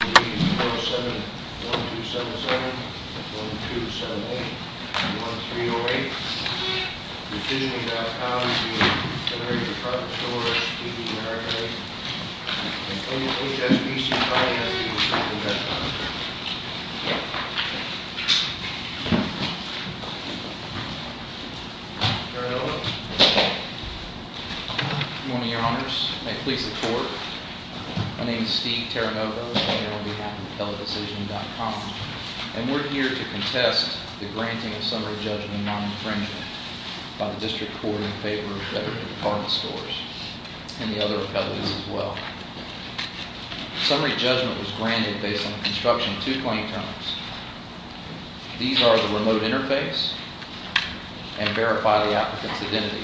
of State of the United States, and only SBC-5 has the authority to do that commentary. Terranova. Good morning, Your Honors. May it please the Court, my name is Steve Terranova. I'm on behalf of AppellateDecisioning.com, and we're here to contest the granting of summary judgment non-infringement by the District Court in favor of Federated Department stores and the other appellates as well. Summary judgment was granted based on the construction of two claim terms. These are the remote interface and verify the applicant's identity.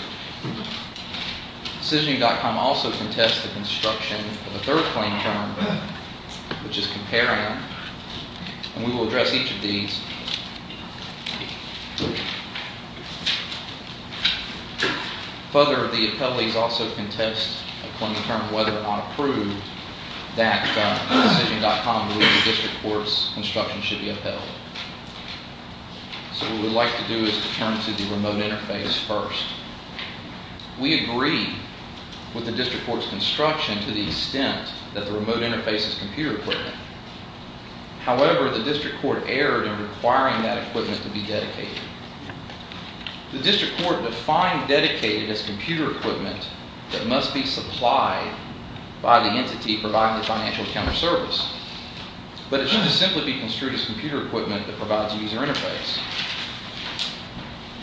Decisioning.com also contests the construction of a third claim term, which is comparing, and we will address each of these. Further, the appellees also contest a claim term, whether or not approved, that Decisioning.com believes the District Court's construction should be upheld. So what we'd like to do is turn to the remote interface first. We agree with the District Court's construction to the extent that the remote interface is computer equipment. However, the District Court erred in requiring that equipment to be dedicated. The District Court defined dedicated as computer equipment that must be supplied by the entity providing the financial counter service, but it should simply be construed as computer equipment that provides user interface.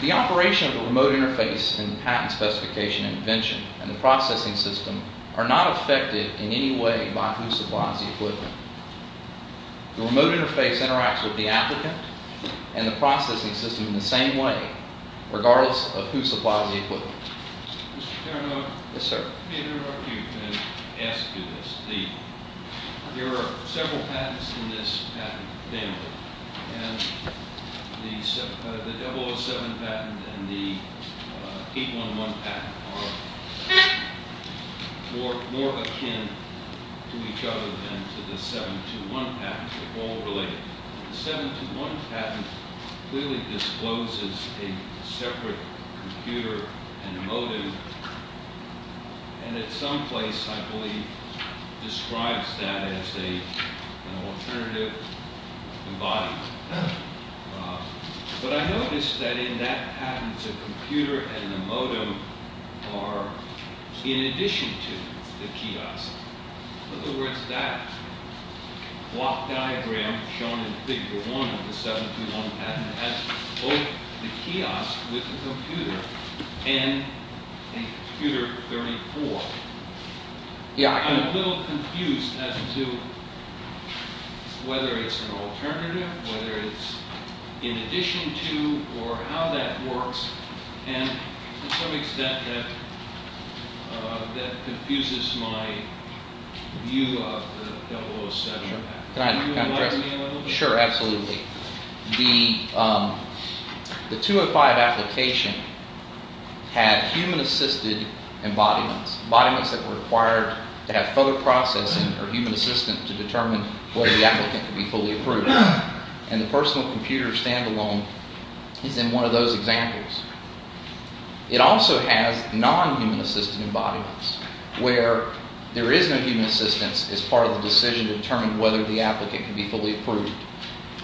The operation of the remote interface and patent specification and invention and the processing system are not affected in any way by who supplies the equipment. The remote interface interacts with the applicant and the processing system in the same way, regardless of who supplies the equipment. Mr. Taranoff. Yes, sir. If you can ask you this. There are several patents in this patent family, and the 007 patent and the 811 patent are more akin to each other than to the 721 patent. They're all related. The 721 patent clearly discloses a separate computer and modem, and at some place, I believe, describes that as an alternative embodiment. But I noticed that in that patent, the computer and the modem are in addition to the kiosk. In other words, that block diagram shown in Figure 1 of the 721 patent has both the kiosk with the computer and the computer 34. I'm a little confused as to whether it's an alternative, whether it's in addition to, or how that works, and to some extent, that confuses my view of the 007 patent. Can you remind me a little bit? Sure, absolutely. The 205 application had human-assisted embodiments, embodiments that were required to have further processing or human assistance to determine whether the applicant could be fully approved. And the personal computer stand-alone is in one of those examples. It also has non-human-assisted embodiments where there is no human assistance as part of the decision to determine whether the applicant can be fully approved.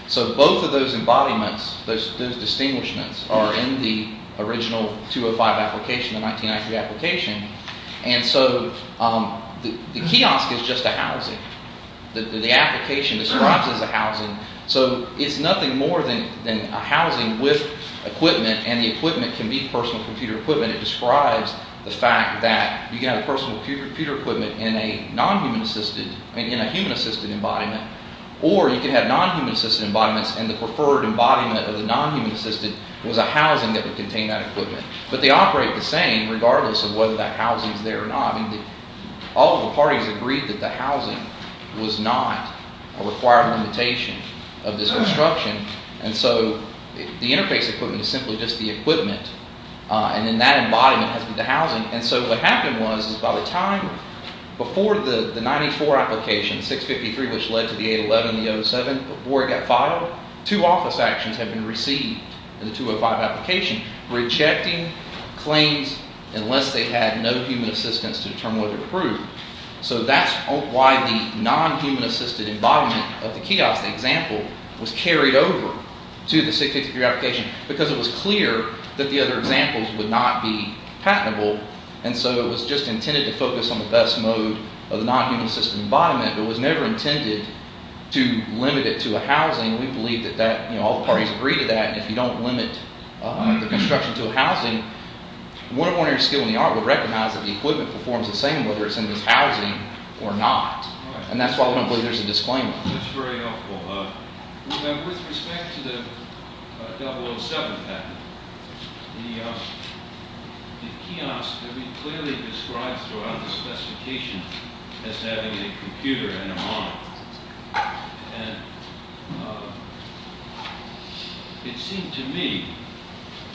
So both of those embodiments, those distinguishments, are in the original 205 application, the 1993 application, and so the kiosk is just a housing. The application describes it as a housing, so it's nothing more than a housing with equipment, and the equipment can be personal computer equipment. It describes the fact that you can have personal computer equipment in a human-assisted embodiment, or you can have non-human-assisted embodiments, and the preferred embodiment of the non-human-assisted was a housing that would contain that equipment. But they operate the same regardless of whether that housing is there or not. All of the parties agreed that the housing was not a required limitation of this construction, and so the interface equipment is simply just the equipment, and then that embodiment has to be the housing. And so what happened was is by the time before the 94 application, 653, which led to the 811 and the 07, before it got filed, two office actions had been received in the 205 application rejecting claims unless they had no human assistance to determine whether to approve. So that's why the non-human-assisted embodiment of the kiosk example was carried over to the 653 application because it was clear that the other examples would not be patentable, and so it was just intended to focus on the best mode of the non-human-assisted embodiment. It was never intended to limit it to a housing. We believe that all the parties agree to that, and if you don't limit the construction to a housing, more than one area of skill in the art would recognize that the equipment performs the same, whether it's in this housing or not, and that's why we don't believe there's a disclaimer. That's very helpful. With respect to the 007 patent, the kiosk could be clearly described throughout the specification as having a computer and a monitor, and it seemed to me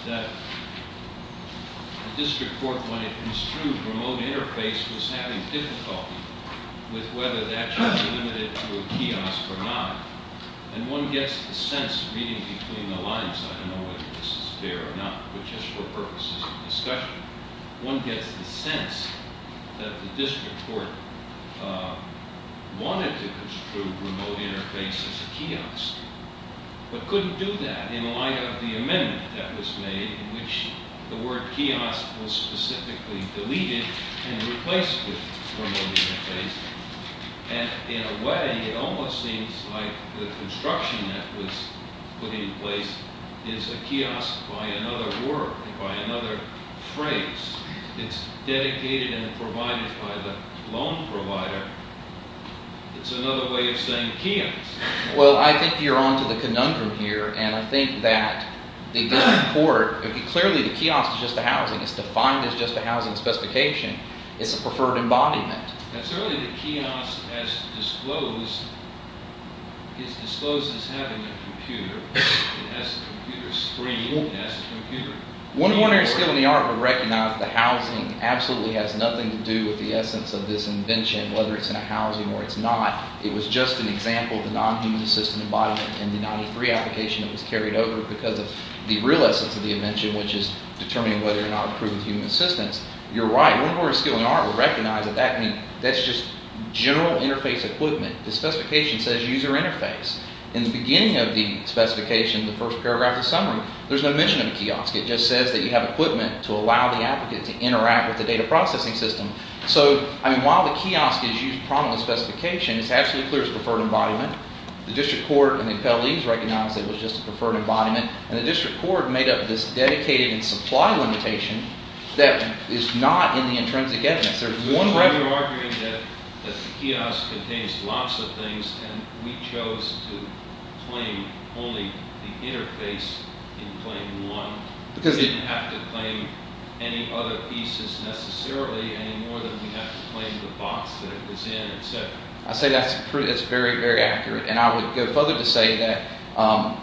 that the district court, when it construed remote interface, was having difficulty with whether that should be limited to a kiosk or not, and one gets the sense reading between the lines. I don't know whether this is fair or not, but just for purposes of discussion, one gets the sense that the district court wanted to construe remote interface as a kiosk, but couldn't do that in light of the amendment that was made in which the word kiosk was specifically deleted and replaced with remote interface, and in a way, it almost seems like the construction that was put in place is a kiosk by another word, by another phrase. It's dedicated and provided by the loan provider. It's another way of saying kiosk. Well, I think you're on to the conundrum here, and I think that the district court, clearly the kiosk is just a housing. It's defined as just a housing specification. It's a preferred embodiment. Certainly the kiosk is disclosed as having a computer. It has a computer screen. It has a computer. One ordinary skill in the art would recognize that the housing absolutely has nothing to do with the essence of this invention, whether it's in a housing or it's not. It was just an example of the non-human assistant embodiment in the 93 application that was carried over because of the real essence of the invention, which is determining whether or not it approves human assistance. You're right. One ordinary skill in the art would recognize what that means. That's just general interface equipment. The specification says user interface. In the beginning of the specification, the first paragraph of summary, there's no mention of a kiosk. It just says that you have equipment to allow the applicant to interact with the data processing system. So while the kiosk is used prominently in the specification, it's absolutely clear it's a preferred embodiment. The district court and the appellees recognize it was just a preferred embodiment, and the district court made up this dedicated and supply limitation that is not in the intrinsic evidence. You're arguing that the kiosk contains lots of things, and we chose to claim only the interface in claim one. We didn't have to claim any other pieces necessarily, any more than we have to claim the box that it was in, et cetera. I say that's very, very accurate, and I would go further to say that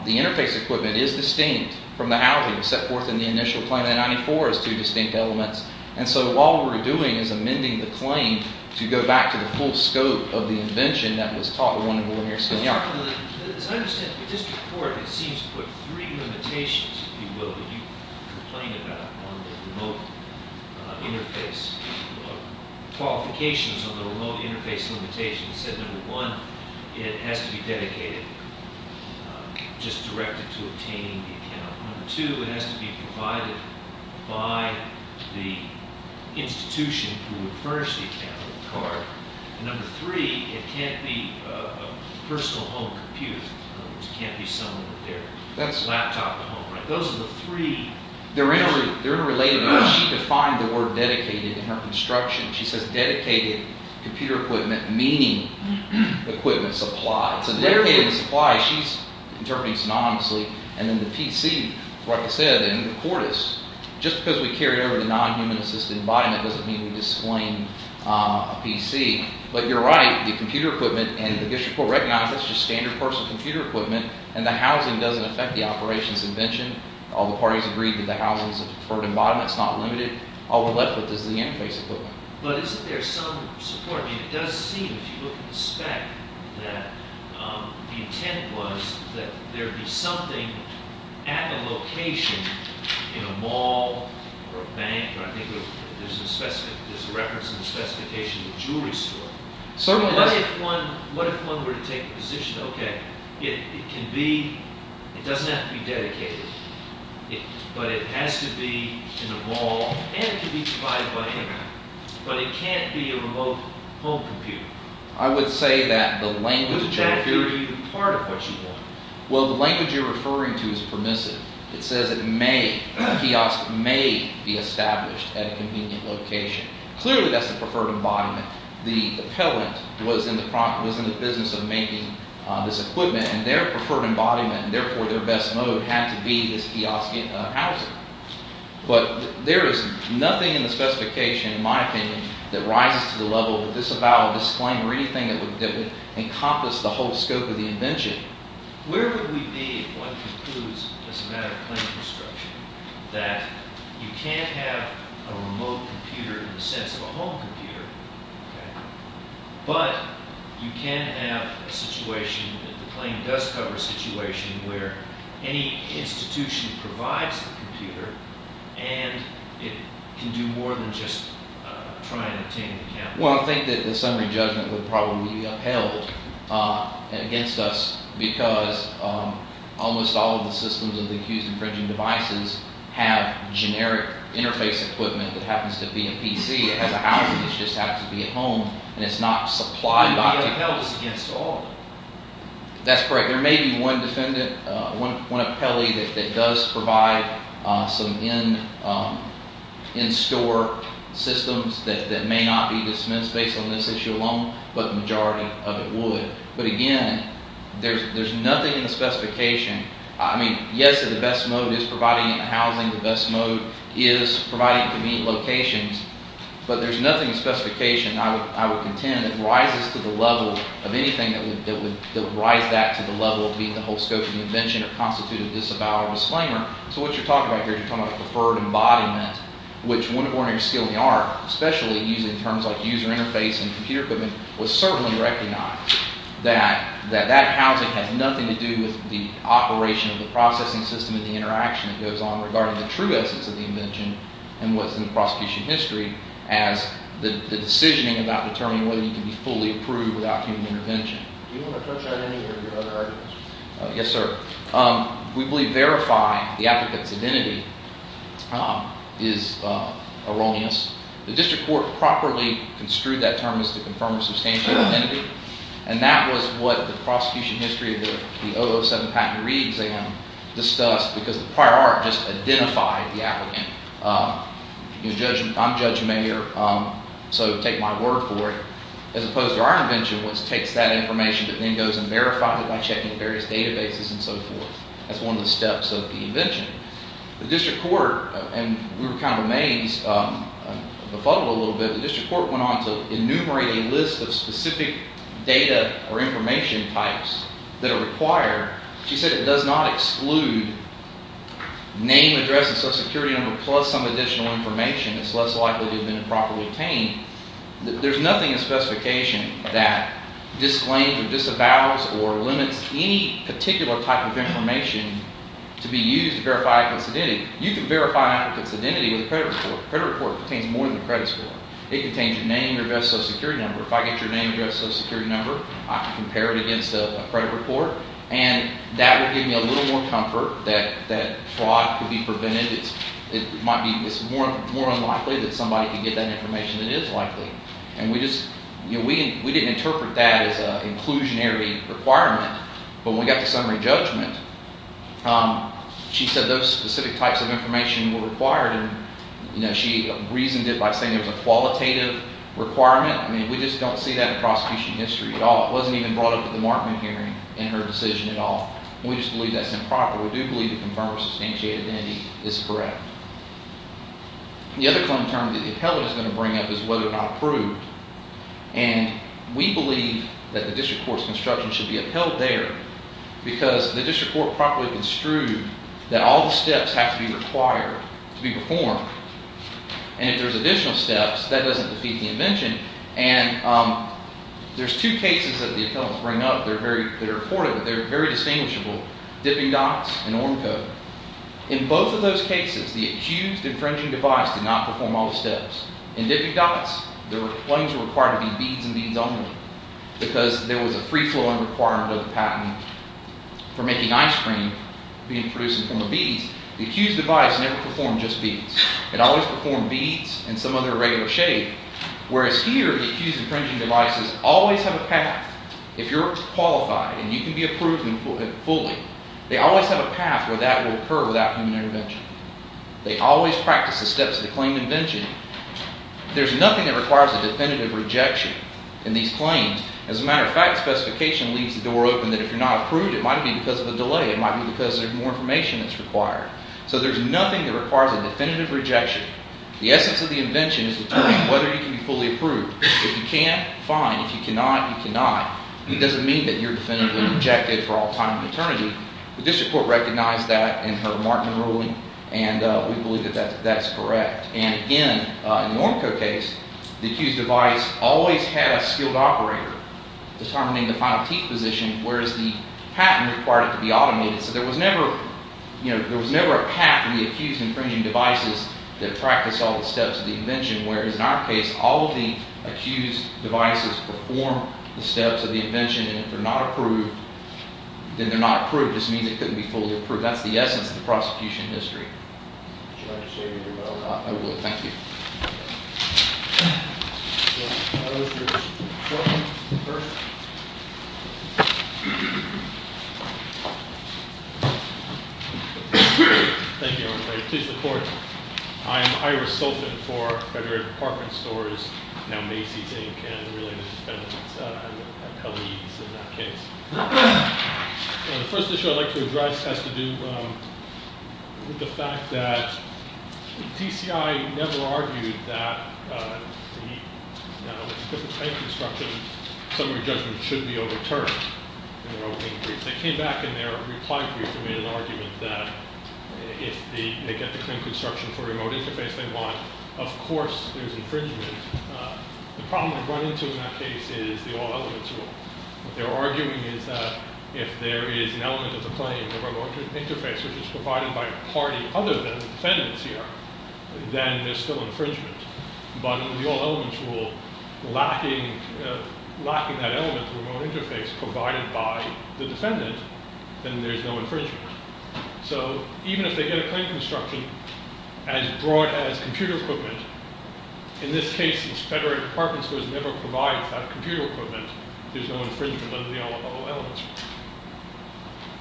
the interface equipment is distinct from the housing set forth in the initial claim. The 94 is two distinct elements. And so all we're doing is amending the claim to go back to the full scope of the invention that was taught at 1 and 1 here at Spaniard. As I understand it, the district court, it seems, put three limitations, if you will, that you complain about on the remote interface qualifications of the remote interface limitation. It said, number one, it has to be dedicated, just directed to obtaining the account. Number two, it has to be provided by the institution who would furnish the account of the car. And number three, it can't be a personal home computer. It can't be someone with their laptop at home. Those are the three. They're interrelated. She defined the word dedicated in her construction. She says dedicated computer equipment, meaning equipment supply. It's a dedicated supply. She's interpreting synonymously. And then the PC, like I said, in the court is. Just because we carried over the non-human-assisted embodiment doesn't mean we disclaim a PC. But you're right. The computer equipment, and the district court recognized that's just standard personal computer equipment, and the housing doesn't affect the operation's invention. All the parties agreed that the housing's preferred embodiment. It's not limited. All we're left with is the interface equipment. But isn't there some support? I mean, it does seem, if you look at the spec, that the intent was that there be something at a location in a mall or a bank. I think there's a reference in the specification of a jewelry store. What if one were to take a position, okay, it can be. It doesn't have to be dedicated. But it has to be in a mall. And it can be supplied by hand. But it can't be a remote home computer. I would say that the language that you're referring to is permissive. It says a kiosk may be established at a convenient location. Clearly that's the preferred embodiment. The appellant was in the business of making this equipment, and their preferred embodiment, and therefore their best mode, had to be this kiosk housing. But there is nothing in the specification, in my opinion, that rises to the level of disavowal of this claim or anything that would encompass the whole scope of the invention. Where would we be if one concludes, as a matter of claim construction, that you can't have a remote computer in the sense of a home computer, but you can have a situation that the claim does cover a situation where any institution provides the computer, and it can do more than just try and obtain the computer? Well, I think that the summary judgment would probably be upheld against us because almost all of the systems of the accused infringing devices have generic interface equipment that happens to be a PC. It has a housing. It just happens to be a home, and it's not supplied by the computer. It would be upheld against all of them. That's correct. There may be one appellee that does provide some in-store systems that may not be dismissed based on this issue alone, but the majority of it would. But again, there's nothing in the specification. I mean, yes, the best mode is providing housing. The best mode is providing convenient locations. But there's nothing in the specification, I would contend, that rises to the level of anything that would rise that to the level of being the whole scope of the invention or constitute a disavowal or disclaimer. So what you're talking about here, you're talking about a preferred embodiment, which one of the ordinary skill we are, especially using terms like user interface and computer equipment, was certainly recognized that that housing has nothing to do with the operation of the processing system and the interaction that goes on regarding the true essence of the invention and what's in the prosecution history as the decision about determining whether you can be fully approved without human intervention. Do you want to touch on any of your other arguments? Yes, sir. We believe verifying the applicant's identity is erroneous. The district court properly construed that term as to confirm a substantial identity, and that was what the prosecution history of the 007 patent reexam discussed because the prior art just identified the applicant. I'm Judge Mayer, so take my word for it, as opposed to our invention, which takes that information but then goes and verifies it by checking various databases and so forth. That's one of the steps of the invention. The district court, and we were kind of amazed, befuddled a little bit, the district court went on to enumerate a list of specific data or information types that are required. She said it does not exclude name, address, and social security number, plus some additional information. It's less likely to have been improperly obtained. There's nothing in the specification that disclaims or disavows or limits any particular type of information to be used to verify an applicant's identity. You can verify an applicant's identity with a credit report. A credit report contains more than a credit score. It contains your name, your address, social security number. If I get your name, your address, social security number, I can compare it against a credit report, and that would give me a little more comfort that fraud could be prevented. It's more unlikely that somebody could get that information than it is likely. We didn't interpret that as an inclusionary requirement, but when we got to summary judgment, she said those specific types of information were required. She reasoned it by saying it was a qualitative requirement. We just don't see that in prosecution history at all. It wasn't even brought up at the Markman hearing in her decision at all. We just believe that's improper. We do believe a confirmed or substantiated identity is correct. The other common term that the appellant is going to bring up is whether or not approved, and we believe that the district court's construction should be upheld there because the district court properly construed that all the steps have to be required to be performed, and if there's additional steps, that doesn't defeat the invention. And there's two cases that the appellants bring up. They're very important, but they're very distinguishable. Dipping dots and ORM code. In both of those cases, the accused infringing device did not perform all the steps. In dipping dots, the claims were required to be beads and beads only because there was a free-flowing requirement of the patent for making ice cream being produced from the beads. The accused device never performed just beads. It always performed beads and some other irregular shape, whereas here, the accused infringing devices always have a path. If you're qualified and you can be approved fully, they always have a path where that will occur without human intervention. They always practice the steps of the claim invention. There's nothing that requires a definitive rejection in these claims. As a matter of fact, specification leaves the door open that if you're not approved, it might be because of a delay. It might be because there's more information that's required. So there's nothing that requires a definitive rejection. The essence of the invention is determining whether you can be fully approved. If you can, fine. If you cannot, you cannot. It doesn't mean that you're definitively rejected for all time and eternity. The district court recognized that in her Martin ruling, and we believe that that's correct. And again, in the Ornco case, the accused device always had a skilled operator determining the final teeth position, whereas the patent required it to be automated. So there was never a path in the accused infringing devices that practiced all the steps of the invention, whereas in our case, all of the accused devices perform the steps of the invention, and if they're not approved, then they're not approved. It just means they couldn't be fully approved. That's the essence of the prosecution history. Would you like to say anything about that? I would. Thank you. Thank you, Your Honor. Please report. I am Iris Sulfan for Federal Department Stores, now Macy's, Inc. and really an independent. I'm at Kelley's in that case. The first issue I'd like to address has to do with the fact that TCI never argued that the, you know, because of paint construction, summary judgment should be overturned in their opening brief. They came back in their reply brief and made an argument that if they get the clean construction for a remote interface they want, of course there's infringement. The problem they run into in that case is the all-elements rule. What they were arguing is that if there is an element of the claim, the remote interface, which is provided by a party other than the defendants here, then there's still infringement. But in the all-elements rule, lacking that element of the remote interface provided by the defendant, then there's no infringement. So even if they get a clean construction as broad as computer equipment, in this case since Federal Department Stores never provides that computer equipment, there's no infringement under the all-elements rule.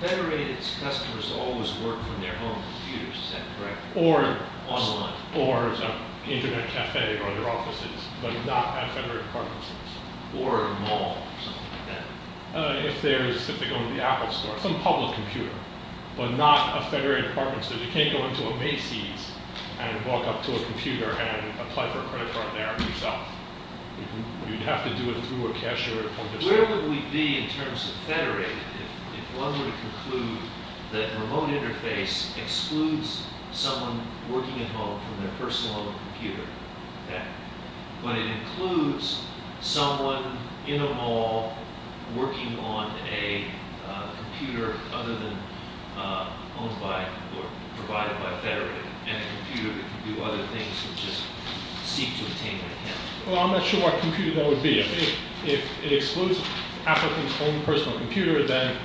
Federated customers always work from their own computers, is that correct? Or online. Or as an internet cafe or other offices, but not at Federated Department Stores. Or a mall or something like that. If there's, if they go into the Apple Store. Some public computer, but not a Federated Department Store. You can't go into a Macy's and walk up to a computer and apply for a credit card there yourself. You'd have to do it through a cashier. Where would we be in terms of Federated if one were to conclude that a remote interface excludes someone working at home from their personal home computer? Okay. But it includes someone in a mall working on a computer other than owned by or provided by Federated. And a computer that can do other things than just seek to obtain an account. Well, I'm not sure what computer that would be. If it excludes applicants' own personal computer, then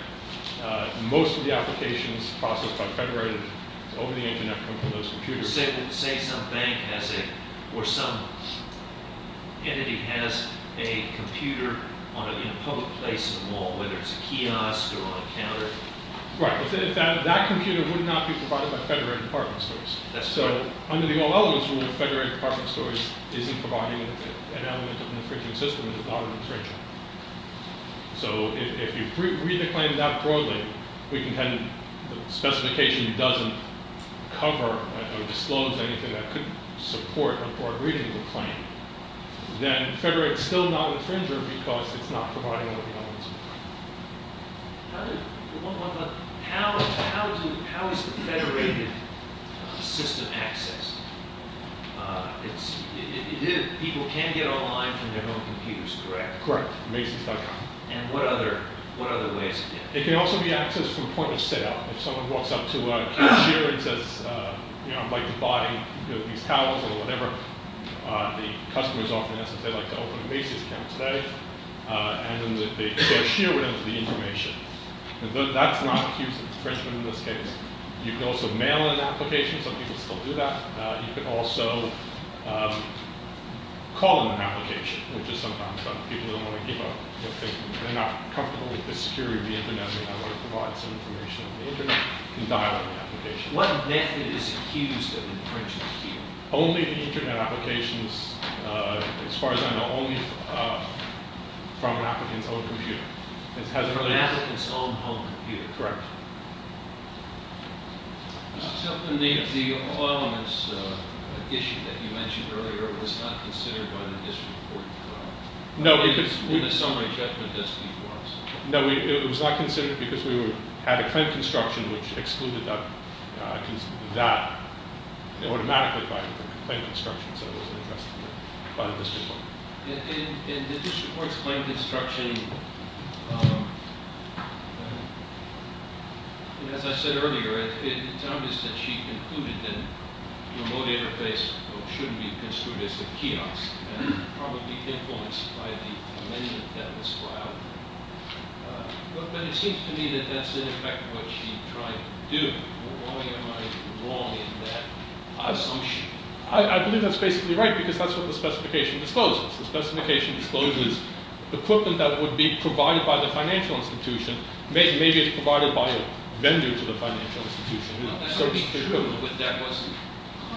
most of the applications processed by Federated over the internet come from those computers. Say some bank has a, or some entity has a computer in a public place in a mall. Whether it's a kiosk or on a counter. Right. That computer would not be provided by Federated Department Stores. That's correct. Under the All Elements Rule, Federated Department Stores isn't providing an element of an infringing system. It is not an infringer. So if you read the claim that broadly, we contend the specification doesn't cover or disclose anything that could support a broad reading of the claim, then Federated's still not an infringer because it's not providing all the elements. One more question. How is the Federated system accessed? People can get online from their own computers, correct? Correct. Macy's.com. And what other ways? It can also be accessed from point of sale. If someone walks up to a cashier and says, you know, I'd like to buy these towels or whatever. The customer is offering this and says, I'd like to open a Macy's account today. And then the cashier would have the information. That's not an infringement in this case. You can also mail an application. Some people still do that. You can also call an application, which is sometimes done. People don't want to give up. They're not comfortable with the security of the Internet. They want to provide some information on the Internet. You can dial the application. What method is accused of infringing here? Only the Internet applications. As far as I know, only from an applicant's own computer. From an applicant's own home computer. Correct. The oil and gas issue that you mentioned earlier was not considered by the district court trial? No. In the summary judgment that's before us. No, it was not considered because we had a claim construction, which excluded that automatically by the claim construction. So it wasn't addressed by the district court. In the district court's claim construction, as I said earlier, it's obvious that she concluded that the remote interface shouldn't be construed as a kiosk. And probably influenced by the amendment that was filed. But it seems to me that that's in effect what she tried to do. Why am I wrong in that assumption? I believe that's basically right because that's what the specification discloses. The specification discloses equipment that would be provided by the financial institution. Maybe it's provided by a vendor to the financial institution. But that wasn't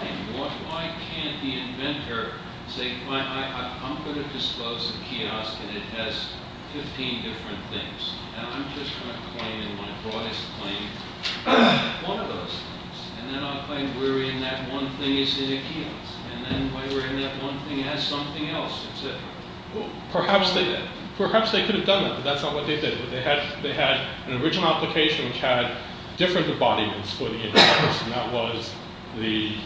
the claim. Why can't the inventor say, I'm going to disclose a kiosk and it has 15 different things. And I'm just going to claim in my broadest claim that it's one of those things. And then I'll claim where in that one thing is in a kiosk. And then where in that one thing has something else. Perhaps they could have done that, but that's not what they did. They had an original application which had different embodiments for the interface. And that was the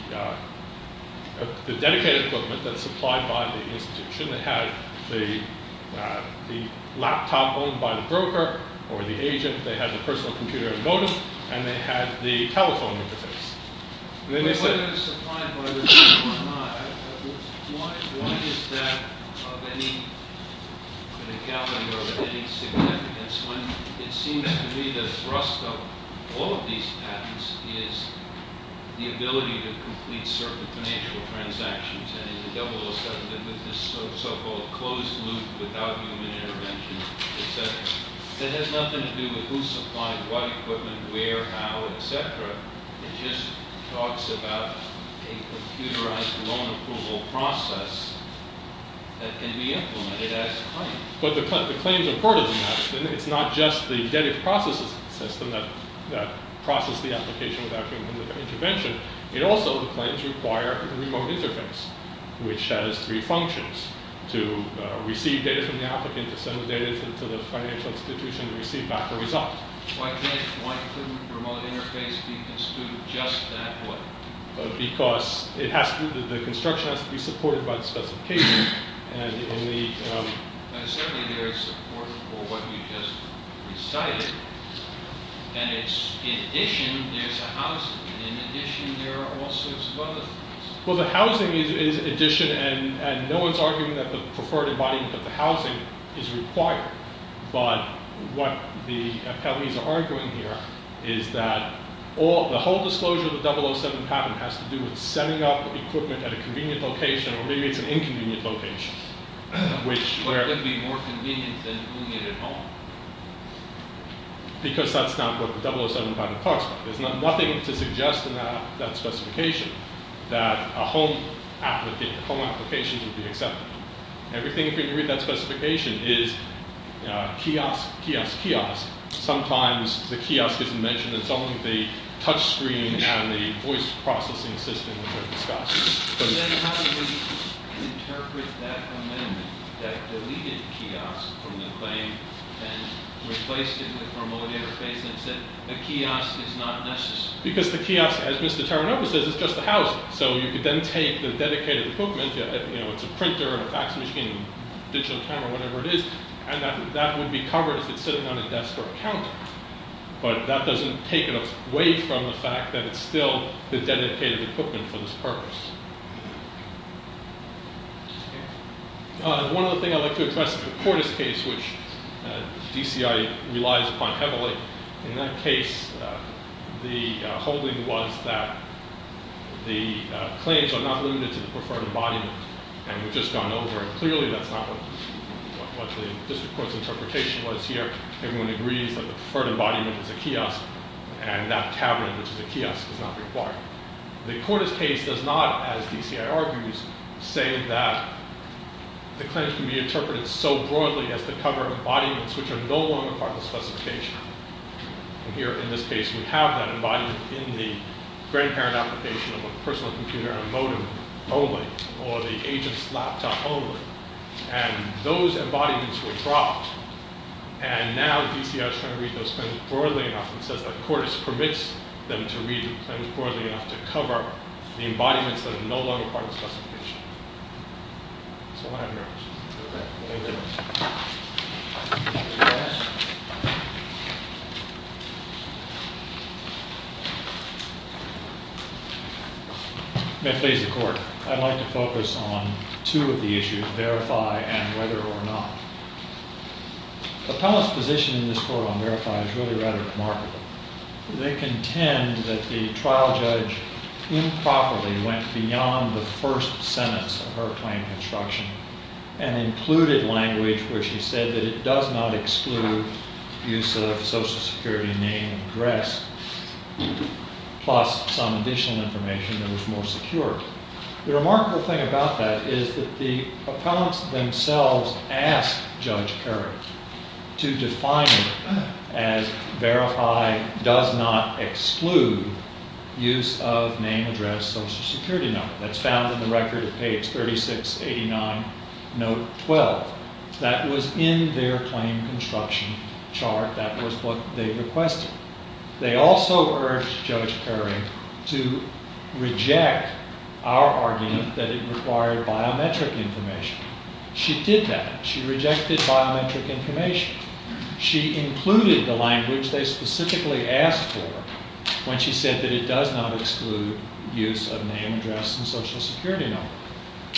dedicated equipment that's supplied by the institution. They had the laptop owned by the broker or the agent. They had the personal computer emotive. And they had the telephone interface. Why is that of any significance when it seems to me the thrust of all of these patents is the ability to complete certain financial transactions. With this so-called closed loop without human intervention, etc. It has nothing to do with who supplied what equipment, where, how, etc. It just talks about a computerized loan approval process that can be implemented as claimed. But the claims are part of the system. It's not just the dedicated processes system that process the application without human intervention. It also claims to require a remote interface, which has three functions. To receive data from the applicant, to send the data to the financial institution, and receive back the result. Why couldn't remote interface be construed just that way? Because the construction has to be supported by the specification. And certainly there is support for what you just recited. And in addition, there's a housing. In addition, there are all sorts of other things. Well, the housing is addition. And no one's arguing that the preferred embodiment of the housing is required. But what the appellees are arguing here is that the whole disclosure of the 007 patent has to do with setting up equipment at a convenient location. Or maybe it's an inconvenient location. Or it could be more convenient than doing it at home. Because that's not what the 007 patent talks about. There's nothing to suggest in that specification that a home application should be accepted. Everything you can read in that specification is kiosk, kiosk, kiosk. Sometimes the kiosk isn't mentioned. It's only the touch screen and the voice processing system that are discussed. Then how do we interpret that amendment that deleted kiosk from the claim and replaced it with formal interface and said a kiosk is not necessary? Because the kiosk, as Mr. Taranoff says, is just the housing. So you could then take the dedicated equipment. It's a printer and a fax machine and a digital camera, whatever it is. And that would be covered if it's sitting on a desk or a counter. But that doesn't take it away from the fact that it's still the dedicated equipment for this purpose. One other thing I'd like to address is the Portis case, which DCI relies upon heavily. In that case, the holding was that the claims are not limited to the preferred embodiment. And we've just gone over it. Clearly, that's not what the district court's interpretation was here. Everyone agrees that the preferred embodiment is a kiosk, and that cabinet, which is a kiosk, is not required. The Portis case does not, as DCI argues, say that the claims can be interpreted so broadly as to cover embodiments which are no longer part of the specification. And here, in this case, we have that embodiment in the grandparent application of a personal computer and a modem only, or the agent's laptop only. And those embodiments were dropped. And now DCI is trying to read those claims broadly enough and says that Portis permits them to read the claims broadly enough to cover the embodiments that are no longer part of the specification. That's all I have for you. May it please the court. I'd like to focus on two of the issues, verify and whether or not. The panel's position in this court on verify is really rather remarkable. They contend that the trial judge improperly went beyond the first sentence of her claim construction and included language where she said that it does not exclude use of social security name and address, plus some additional information that was more secure. The remarkable thing about that is that the opponents themselves asked Judge Kerry to define it as verify does not exclude use of name, address, social security number. That's found in the record at page 3689, note 12. That was in their claim construction chart. That was what they requested. They also urged Judge Kerry to reject our argument that it required biometric information. She did that. She rejected biometric information. She included the language they specifically asked for when she said that it does not exclude use of name, address, and social security number.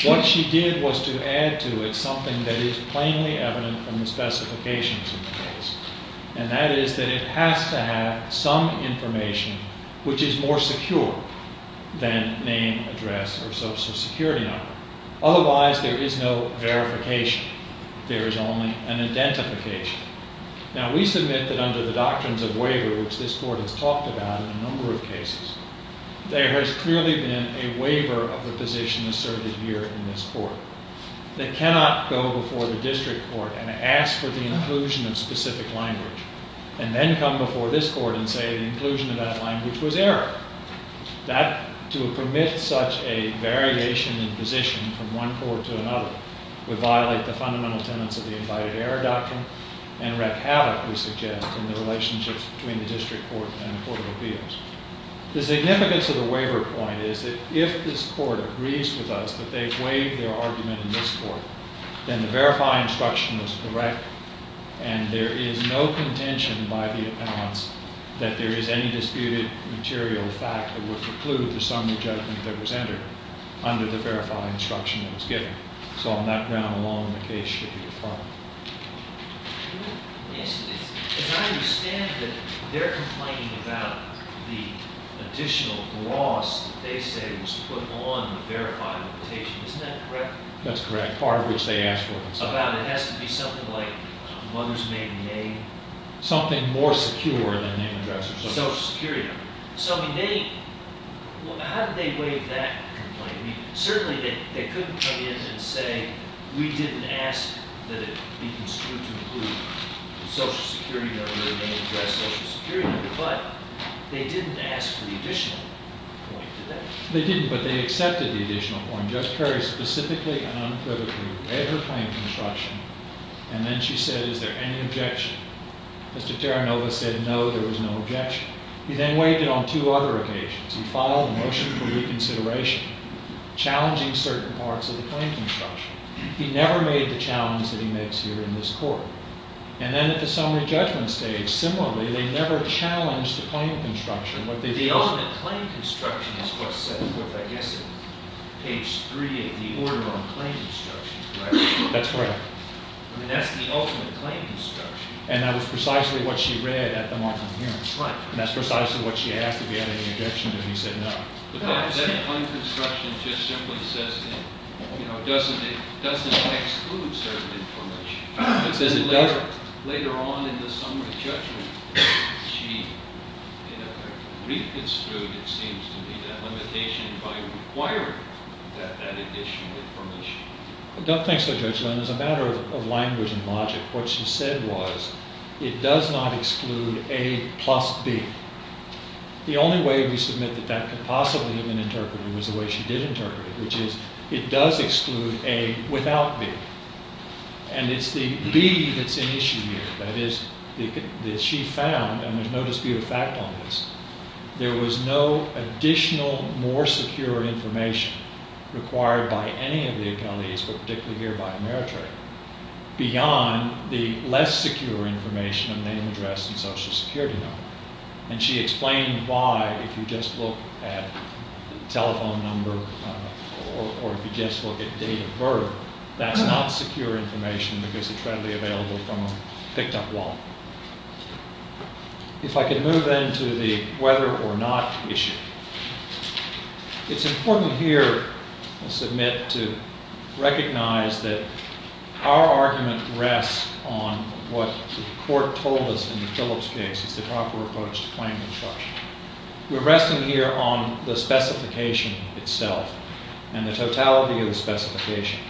What she did was to add to it something that is plainly evident from the specifications of the case. And that is that it has to have some information which is more secure than name, address, or social security number. Otherwise, there is no verification. There is only an identification. Now, we submit that under the doctrines of waiver, which this court has talked about in a number of cases, there has clearly been a waiver of the position asserted here in this court. They cannot go before the district court and ask for the inclusion of specific language, and then come before this court and say the inclusion of that language was error. That, to permit such a variation in position from one court to another, would violate the fundamental tenets of the Invited Error Doctrine and wreck havoc, we suggest, in the relationships between the district court and the court of appeals. The significance of the waiver point is that if this court agrees with us that they've waived their argument in this court, then the verify instruction is correct. And there is no contention by the appellants that there is any disputed material fact that would preclude the summary judgment that was entered under the verify instruction that was given. So on that ground alone, the case should be affirmed. As I understand it, they're complaining about the additional gloss that they say was put on the verified invitation. Isn't that correct? That's correct. Part of which they asked for. It has to be something like mother's maiden name? Something more secure than name and address. Social Security number. So how did they waive that complaint? Certainly, they couldn't come in and say, we didn't ask that it be construed to include the Social Security number and address Social Security number. But they didn't ask for the additional point, did they? They didn't, but they accepted the additional point. Judge Perry, specifically and unquivocally, read her claim construction. And then she said, is there any objection? He then waived it on two other occasions. He filed a motion for reconsideration, challenging certain parts of the claim construction. He never made the challenge that he makes here in this court. And then at the summary judgment stage, similarly, they never challenged the claim construction. The ultimate claim construction is what's said with, I guess, page 3 of the order on claim construction, right? That's right. I mean, that's the ultimate claim construction. And that was precisely what she read at the mark of the hearing. Right. And that's precisely what she asked, did he have any objection to it? He said no. The claim construction just simply says it doesn't exclude certain information. Later on in the summary judgment, she, in effect, reconstrued, it seems to me, that limitation by requiring that additional information. Thanks, Judge. And as a matter of language and logic, what she said was, it does not exclude A plus B. The only way we submit that that could possibly have been interpreted was the way she did interpret it, which is, it does exclude A without B. And it's the B that's in issue here, that is, that she found, and there's no dispute of fact on this, there was no additional, more secure information required by any of the accolades, but particularly here by Ameritrade, beyond the less secure information of name, address, and social security number. And she explained why, if you just look at telephone number, or if you just look at date of birth, that's not secure information because it's readily available from a picked up wallet. If I could move then to the whether or not issue. It's important here, I submit, to recognize that our argument rests on what the court told us in the Phillips case, it's the proper approach to claim construction. We're resting here on the specification itself, and the totality of the specification.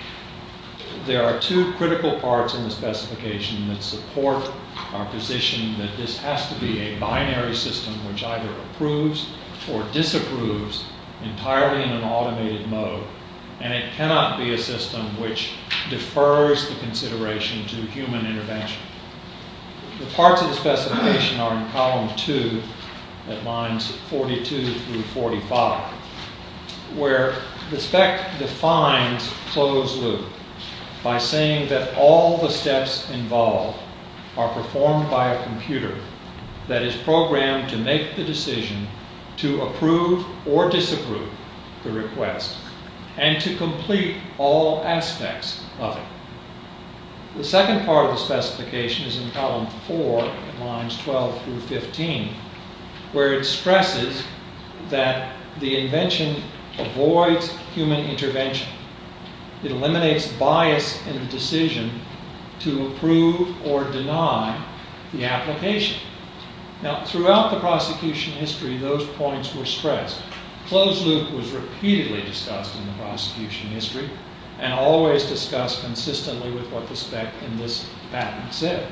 There are two critical parts in the specification that support our position that this has to be a binary system, which either approves or disapproves entirely in an automated mode, and it cannot be a system which defers the consideration to human intervention. The parts of the specification are in column two, at lines 42 through 45, where the spec defines closed loop by saying that all the steps involved are performed by a computer that is programmed to make the decision to approve or disapprove the request, and to complete all aspects of it. The second part of the specification is in column four, at lines 12 through 15, where it stresses that the invention avoids human intervention. It eliminates bias in the decision to approve or deny the application. Now, throughout the prosecution history, those points were stressed. Closed loop was repeatedly discussed in the prosecution history, and always discussed consistently with what the spec in this patent said.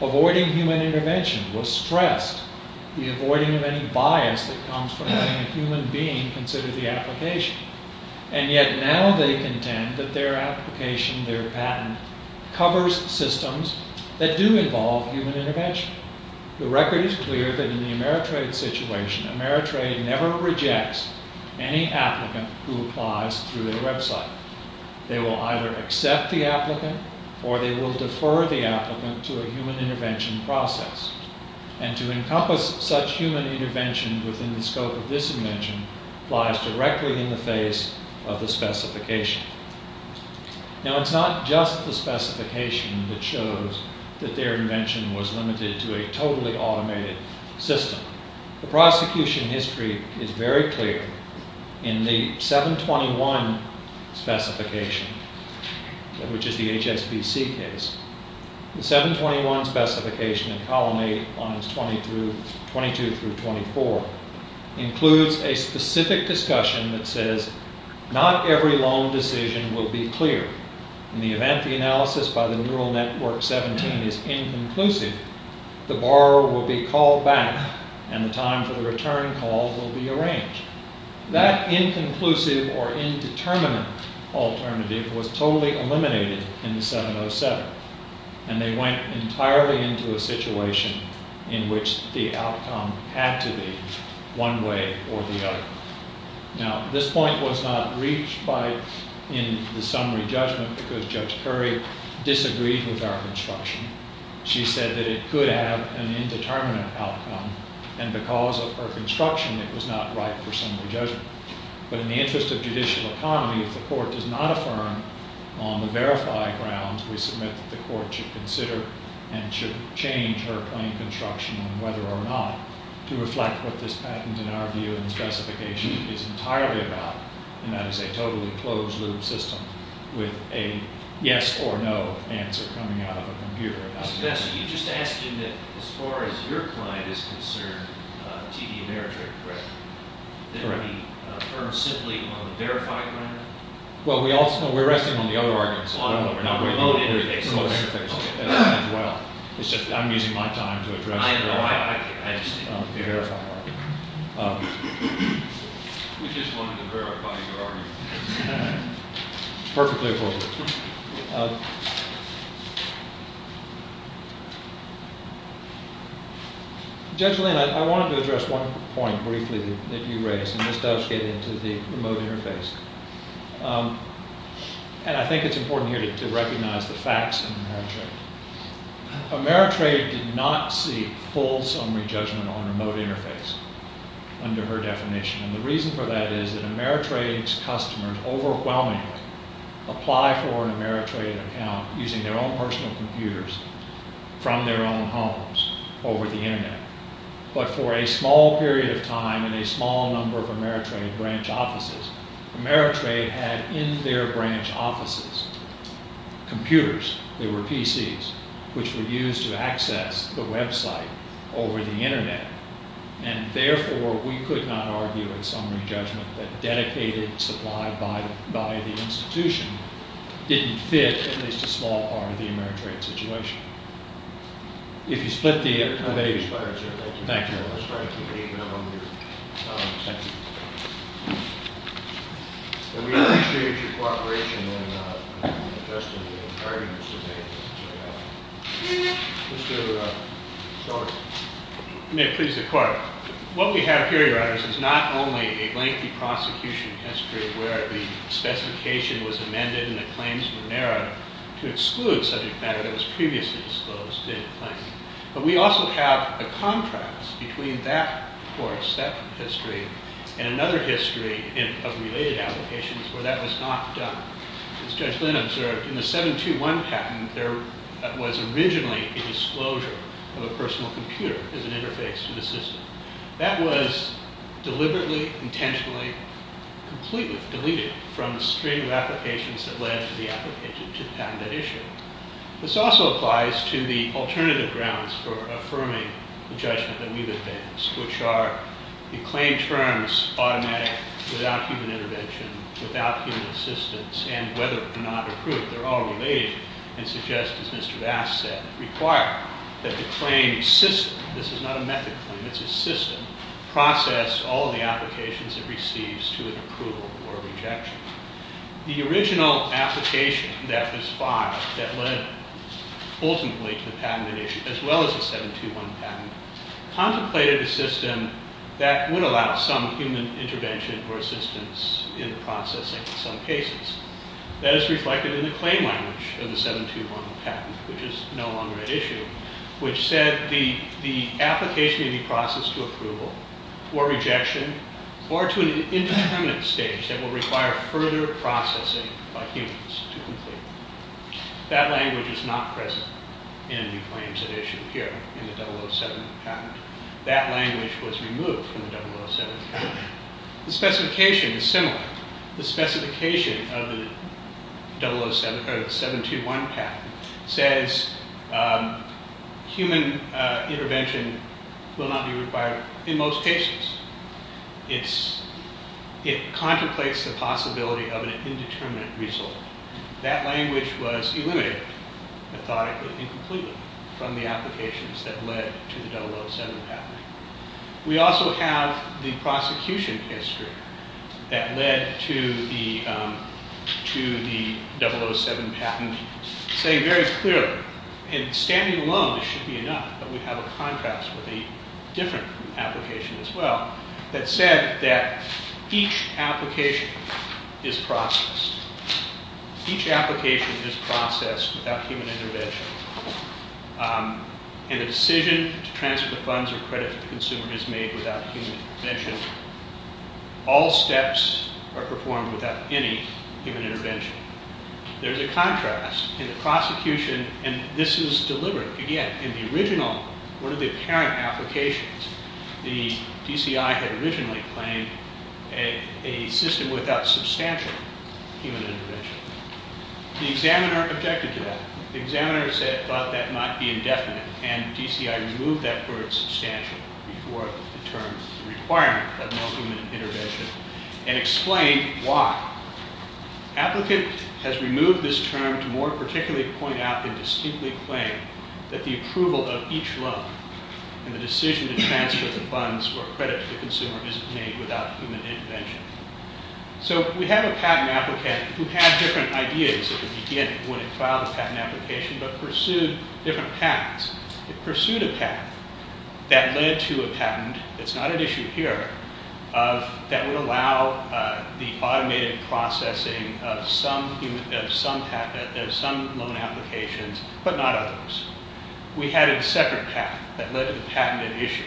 Avoiding human intervention was stressed, the avoiding of any bias that comes from having a human being consider the application, and yet now they contend that their application, their patent, covers systems that do involve human intervention. The record is clear that in the Ameritrade situation, Ameritrade never rejects any applicant who applies through their website. They will either accept the applicant, or they will defer the applicant to a human intervention process. And to encompass such human intervention within the scope of this invention lies directly in the face of the specification. Now, it's not just the specification that shows that their invention was limited to a totally automated system. The prosecution history is very clear. In the 721 specification, which is the HSBC case, the 721 specification in column 8, lines 22 through 24, includes a specific discussion that says, not every loan decision will be clear. In the event the analysis by the neural network 17 is inconclusive, the borrower will be called back, and the time for the return call will be arranged. That inconclusive or indeterminate alternative was totally eliminated in the 707, and they went entirely into a situation in which the outcome had to be one way or the other. Now, this point was not reached in the summary judgment, because Judge Curry disagreed with our construction. She said that it could have an indeterminate outcome, and because of her construction, it was not right for summary judgment. But in the interest of judicial economy, if the court does not affirm, on the verified grounds we submit that the court should consider and should change her plain construction on whether or not to reflect what this patent, in our view, and specification is entirely about, and that is a totally closed-loop system with a yes or no answer coming out of a computer. So you're just asking that as far as your client is concerned, TD Ameritrade, correct, that it be affirmed simply on the verified ground? Well, we're resting on the other arguments. On the remote interface? Remote interface as well. I'm using my time to address the verified argument. We just wanted to verify your argument. Perfectly appropriate. Judge Lane, I wanted to address one point briefly that you raised, and this does get into the remote interface, and I think it's important here to recognize the facts of Ameritrade. Ameritrade did not seek full summary judgment on remote interface under her definition, and the reason for that is that Ameritrade's customers overwhelmingly apply for an Ameritrade account using their own personal computers from their own homes over the Internet. But for a small period of time in a small number of Ameritrade branch offices, Ameritrade had in their branch offices computers, they were PCs, which were used to access the website over the Internet, and therefore we could not argue in summary judgment that dedicated supply by the institution didn't fit at least a small part of the Ameritrade situation. If you split the debate. Thank you. Let's try to keep it even on mute. We appreciate your cooperation in testing the arguments today. May it please the court. What we have here, Your Honor, is not only a lengthy prosecution history where the specification was amended and the claims were narrowed to exclude subject matter that was previously disclosed in the claim, but we also have a contrast between that course, that history, and another history of related applications where that was not done. As Judge Lynn observed, in the 721 patent, there was originally a disclosure of a personal computer as an interface to the system. That was deliberately, intentionally, completely deleted from the string of applications that led to the patent that issued. This also applies to the alternative grounds for affirming the judgment that we've advanced, which are the claim terms automatic, without human intervention, without human assistance, and whether or not approved. They're all related and suggest, as Mr. Bass said, require that the claim system, this is not a method claim, it's a system, process all the applications it receives to an approval or rejection. The original application that was filed that led ultimately to the patent in issue, as well as the 721 patent, contemplated a system that would allow some human intervention or assistance in the process in some cases. That is reflected in the claim language of the 721 patent, which is no longer at issue, which said the application may be processed to approval or rejection or to an indeterminate stage that will require further processing by humans to complete. That language is not present in the claims that issue here in the 007 patent. That language was removed from the 007 patent. The specification is similar. The specification of the 007, or the 721 patent, says human intervention will not be required in most cases. It contemplates the possibility of an indeterminate result. That language was eliminated methodically and completely from the applications that led to the 007 patent. We also have the prosecution history that led to the 007 patent saying very clearly, and standing alone should be enough, but we have a contrast with a different application as well, that said that each application is processed. Each application is processed without human intervention, and the decision to transfer the funds or credit to the consumer is made without human intervention. All steps are performed without any human intervention. There's a contrast in the prosecution, and this is deliberate. Again, in the original, one of the apparent applications, the DCI had originally claimed a system without substantial human intervention. The examiner objected to that. The examiner said, well, that might be indefinite, and DCI removed that word substantial before the term requirement of no human intervention and explained why. The applicant has removed this term to more particularly point out and distinctly claim that the approval of each loan and the decision to transfer the funds or credit to the consumer isn't made without human intervention. So we have a patent applicant who had different ideas at the beginning when he filed the patent application but pursued different patents. He pursued a patent that led to a patent. It's not an issue here that would allow the automated processing of some loan applications but not others. We had a separate path that led to the patented issue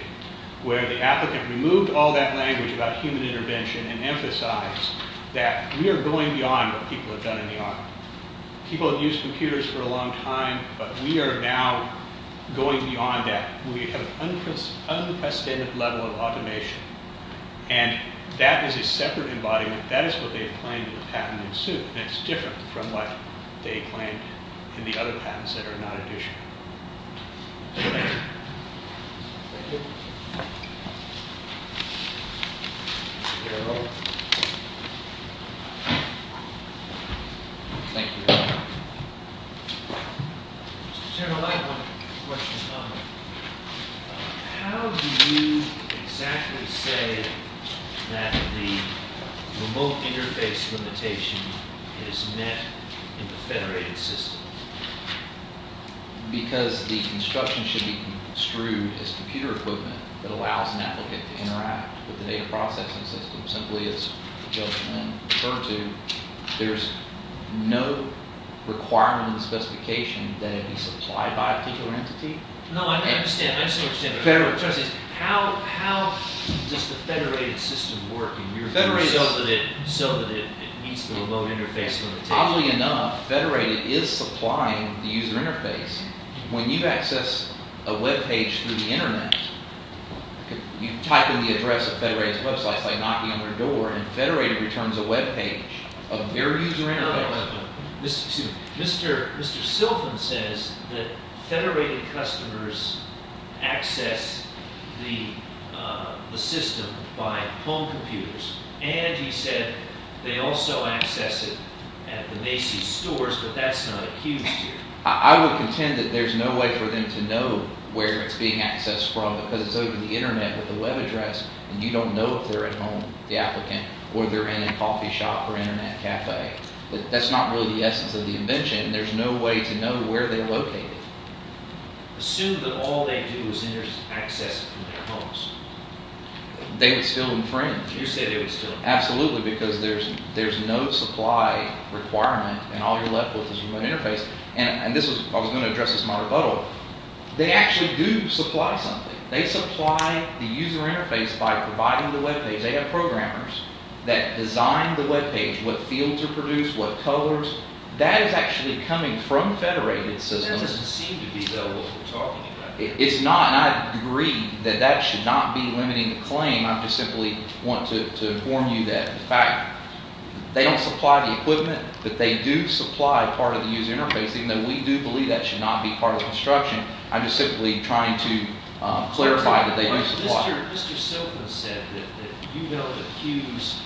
where the applicant removed all that language about human intervention and emphasized that we are going beyond what people have done in the army. People have used computers for a long time, but we are now going beyond that. We have an unprecedented level of automation, and that is a separate embodiment. That is what they have claimed in the patent suit, and it's different from what they claimed in the other patents that are not an issue. Thank you. Thank you. Thank you. Thank you. General, I have one question. How do you exactly say that the remote interface limitation is met in the federated system? Because the construction should be construed as computer equipment that allows an applicant to interact with the data processing system simply as the gentleman referred to. There is no requirement in the specification that it be supplied by a particular entity? No, I understand. Federal trustees, how does the federated system work? Federated so that it meets the remote interface limitation. Oddly enough, federated is supplying the user interface. When you access a web page through the Internet, you type in the address of federated websites by knocking on their door, and federated returns a web page of their user interface. Mr. Silfen says that federated customers access the system by home computers, and he said they also access it at the Macy's stores, but that's not accused here. I would contend that there's no way for them to know where it's being accessed from because it's over the Internet with a web address, and you don't know if they're at home, the applicant, or they're in a coffee shop or Internet cafe. That's not really the essence of the invention. There's no way to know where they're located. Assume that all they do is access it from their homes. They would still infringe. You say they would still infringe. Absolutely, because there's no supply requirement, and all you're left with is a remote interface. I was going to address this in my rebuttal. They actually do supply something. They supply the user interface by providing the web page. They have programmers that design the web page, what fields are produced, what colors. That is actually coming from federated systems. It doesn't seem to be, though, what we're talking about. It's not, and I agree that that should not be limiting the claim. I just simply want to inform you that, in fact, they don't supply the equipment, but they do supply part of the user interface, even though we do believe that should not be part of the construction. I'm just simply trying to clarify that they do supply. But Mr. Silver said that you don't accuse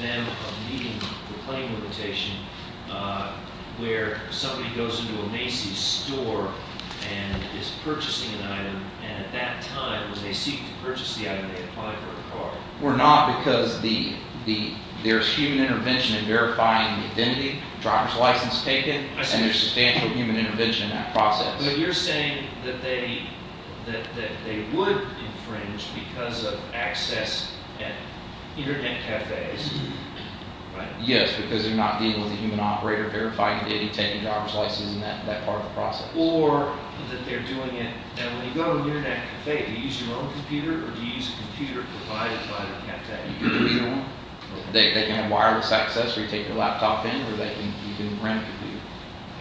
them of meeting the claim limitation where somebody goes into a Macy's store and is purchasing an item, and at that time, when they seek to purchase the item, they apply for a card. We're not because there's human intervention in verifying the identity, driver's license taken, and there's substantial human intervention in that process. But you're saying that they would infringe because of access at Internet cafes, right? Yes, because they're not dealing with a human operator verifying the identity, taking driver's license, and that part of the process. Or that they're doing it—now, when you go to an Internet cafe, do you use your own computer or do you use a computer provided by the cafe? Either one. They can have wireless access, or you take your laptop in, or you can rent a computer.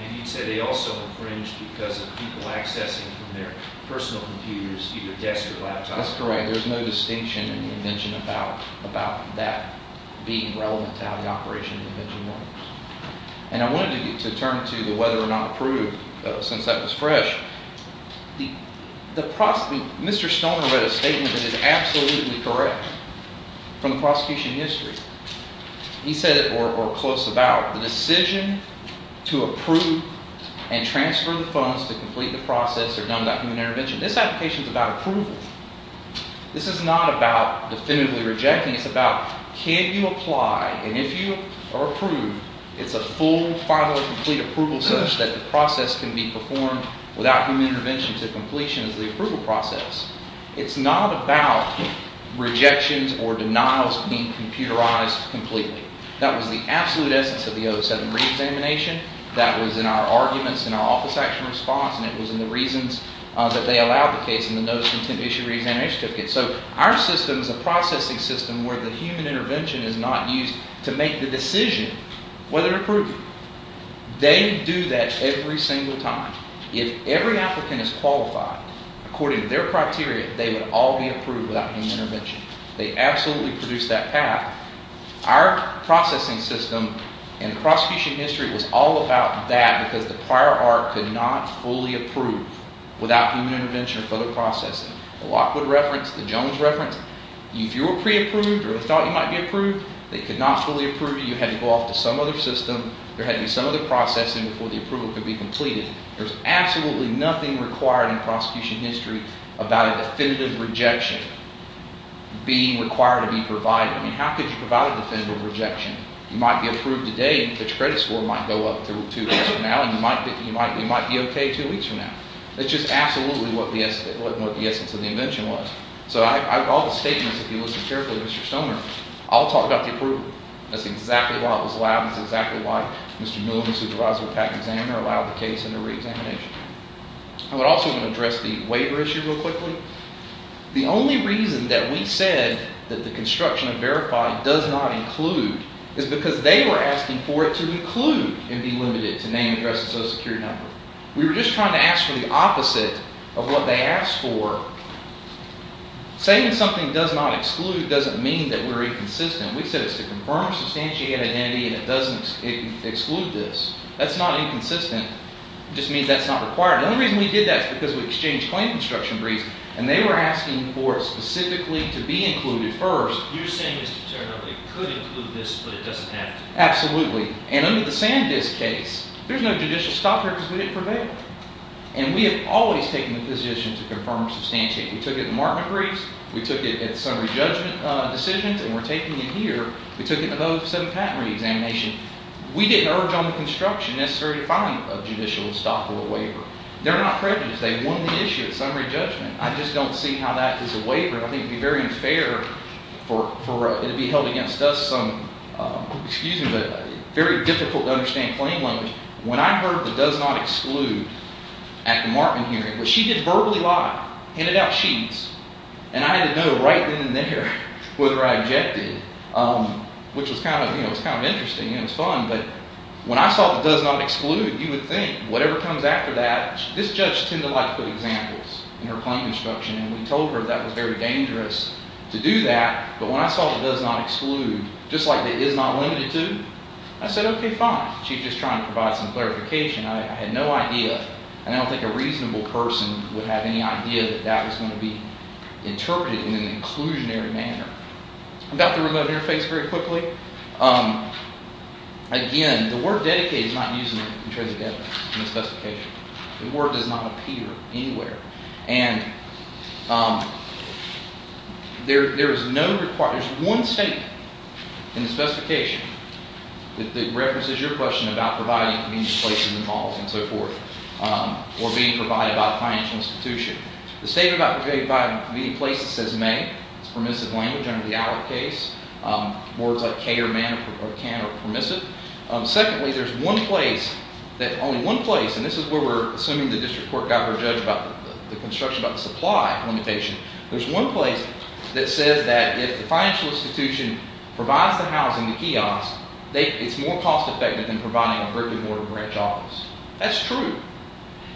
And you said they also infringe because of people accessing from their personal computers, either desk or laptop. That's correct. There's no distinction in the invention about that being relevant to how the operation of the invention works. And I wanted to turn to the whether or not approved, since that was fresh. Mr. Stoner read a statement that is absolutely correct from the prosecution history. He said it, or close about, the decision to approve and transfer the funds to complete the process are done without human intervention. This application is about approval. This is not about definitively rejecting. It's about can you apply, and if you are approved, it's a full, final, complete approval such that the process can be performed without human intervention to completion as the approval process. It's not about rejections or denials being computerized completely. That was the absolute essence of the 07 reexamination. That was in our arguments in our office action response, and it was in the reasons that they allowed the case in the notice of intent to issue a reexamination certificate. So our system is a processing system where the human intervention is not used to make the decision whether to approve it. They do that every single time. If every applicant is qualified according to their criteria, they would all be approved without human intervention. They absolutely produced that path. Our processing system and prosecution history was all about that because the prior art could not fully approve without human intervention or further processing. The Lockwood reference, the Jones reference, if you were pre-approved or thought you might be approved, they could not fully approve you. You had to go off to some other system. There had to be some other processing before the approval could be completed. There's absolutely nothing required in prosecution history about a definitive rejection being required to be provided. I mean, how could you provide a definitive rejection? You might be approved today, but your credit score might go up two weeks from now, and you might be okay two weeks from now. That's just absolutely what the essence of the invention was. So all the statements, if you listen carefully to Mr. Stoner, all talk about the approval. That's exactly why it was allowed. That's exactly why Mr. Miller, the supervisor of the patent examiner, allowed the case under reexamination. I would also want to address the waiver issue real quickly. The only reason that we said that the construction of verified does not include is because they were asking for it to include and be limited to name, address, and social security number. We were just trying to ask for the opposite of what they asked for. Saying something does not exclude doesn't mean that we're inconsistent. We said it's to confirm or substantiate an identity, and it doesn't exclude this. That's not inconsistent. It just means that's not required. The only reason we did that is because we exchanged claim construction briefs, and they were asking for it specifically to be included first. You're saying, Mr. Turner, that it could include this, but it doesn't have to? Absolutely. And under the SanDisk case, there's no judicial stop there because we didn't prevail. And we have always taken the position to confirm or substantiate. We took it in the Markman briefs. We took it at the summary judgment decisions, and we're taking it here. We took it in the 2007 patent reexamination. We didn't urge on the construction necessary to find a judicial stop or a waiver. They're not prejudiced. They won the issue at summary judgment. I just don't see how that is a waiver. I think it would be very unfair for it to be held against us some, excuse me, but very difficult to understand claim language. When I heard the does not exclude at the Markman hearing, which she did verbally lie, handed out sheets, and I had to know right then and there whether I objected, which was kind of interesting. It was fun. But when I saw the does not exclude, you would think whatever comes after that. This judge tended to like to put examples in her claim instruction, and we told her that was very dangerous to do that. But when I saw the does not exclude, just like the is not limited to, I said, okay, fine. She's just trying to provide some clarification. I had no idea. I don't think a reasonable person would have any idea that that was going to be interpreted in an inclusionary manner. I've got the remote interface very quickly. Again, the word dedicated is not used in terms of the specification. The word does not appear anywhere. And there is no requirement. There's one statement in the specification that references your question about providing convenient places or being provided by a financial institution. The statement about providing convenient places says may. It's permissive language under the ALEC case. Words like can or man are permissive. Secondly, there's one place that only one place, and this is where we're assuming the district court got her judged about the construction, about the supply limitation. There's one place that says that if the financial institution provides the housing, the kiosk, it's more cost-effective than providing a brick-and-mortar branch office. That's true.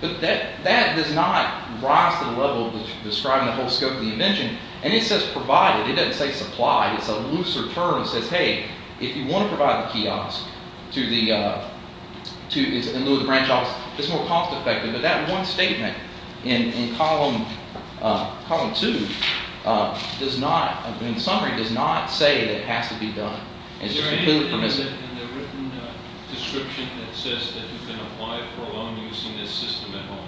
But that does not rise to the level of describing the whole scope of the invention. And it says provided. It doesn't say supply. It's a looser term that says, hey, if you want to provide the kiosk in lieu of the branch office, it's more cost-effective. But that one statement in Column 2 does not, in summary, does not say that it has to be done. It's just completely permissive. Is there anything in the written description that says that you can apply for a loan using this system at all?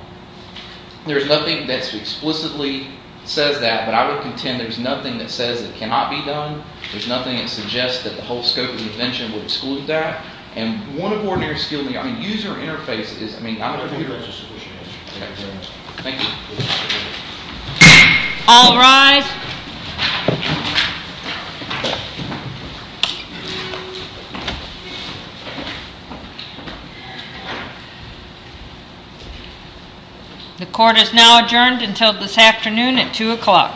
There's nothing that explicitly says that. But I would contend there's nothing that says it cannot be done. There's nothing that suggests that the whole scope of the invention would exclude that. And one of ordinary skill in the user interface is, I mean, I don't think that's a sufficient answer. Thank you very much. Thank you. All rise. Thank you. The court is now adjourned until this afternoon at 2 o'clock.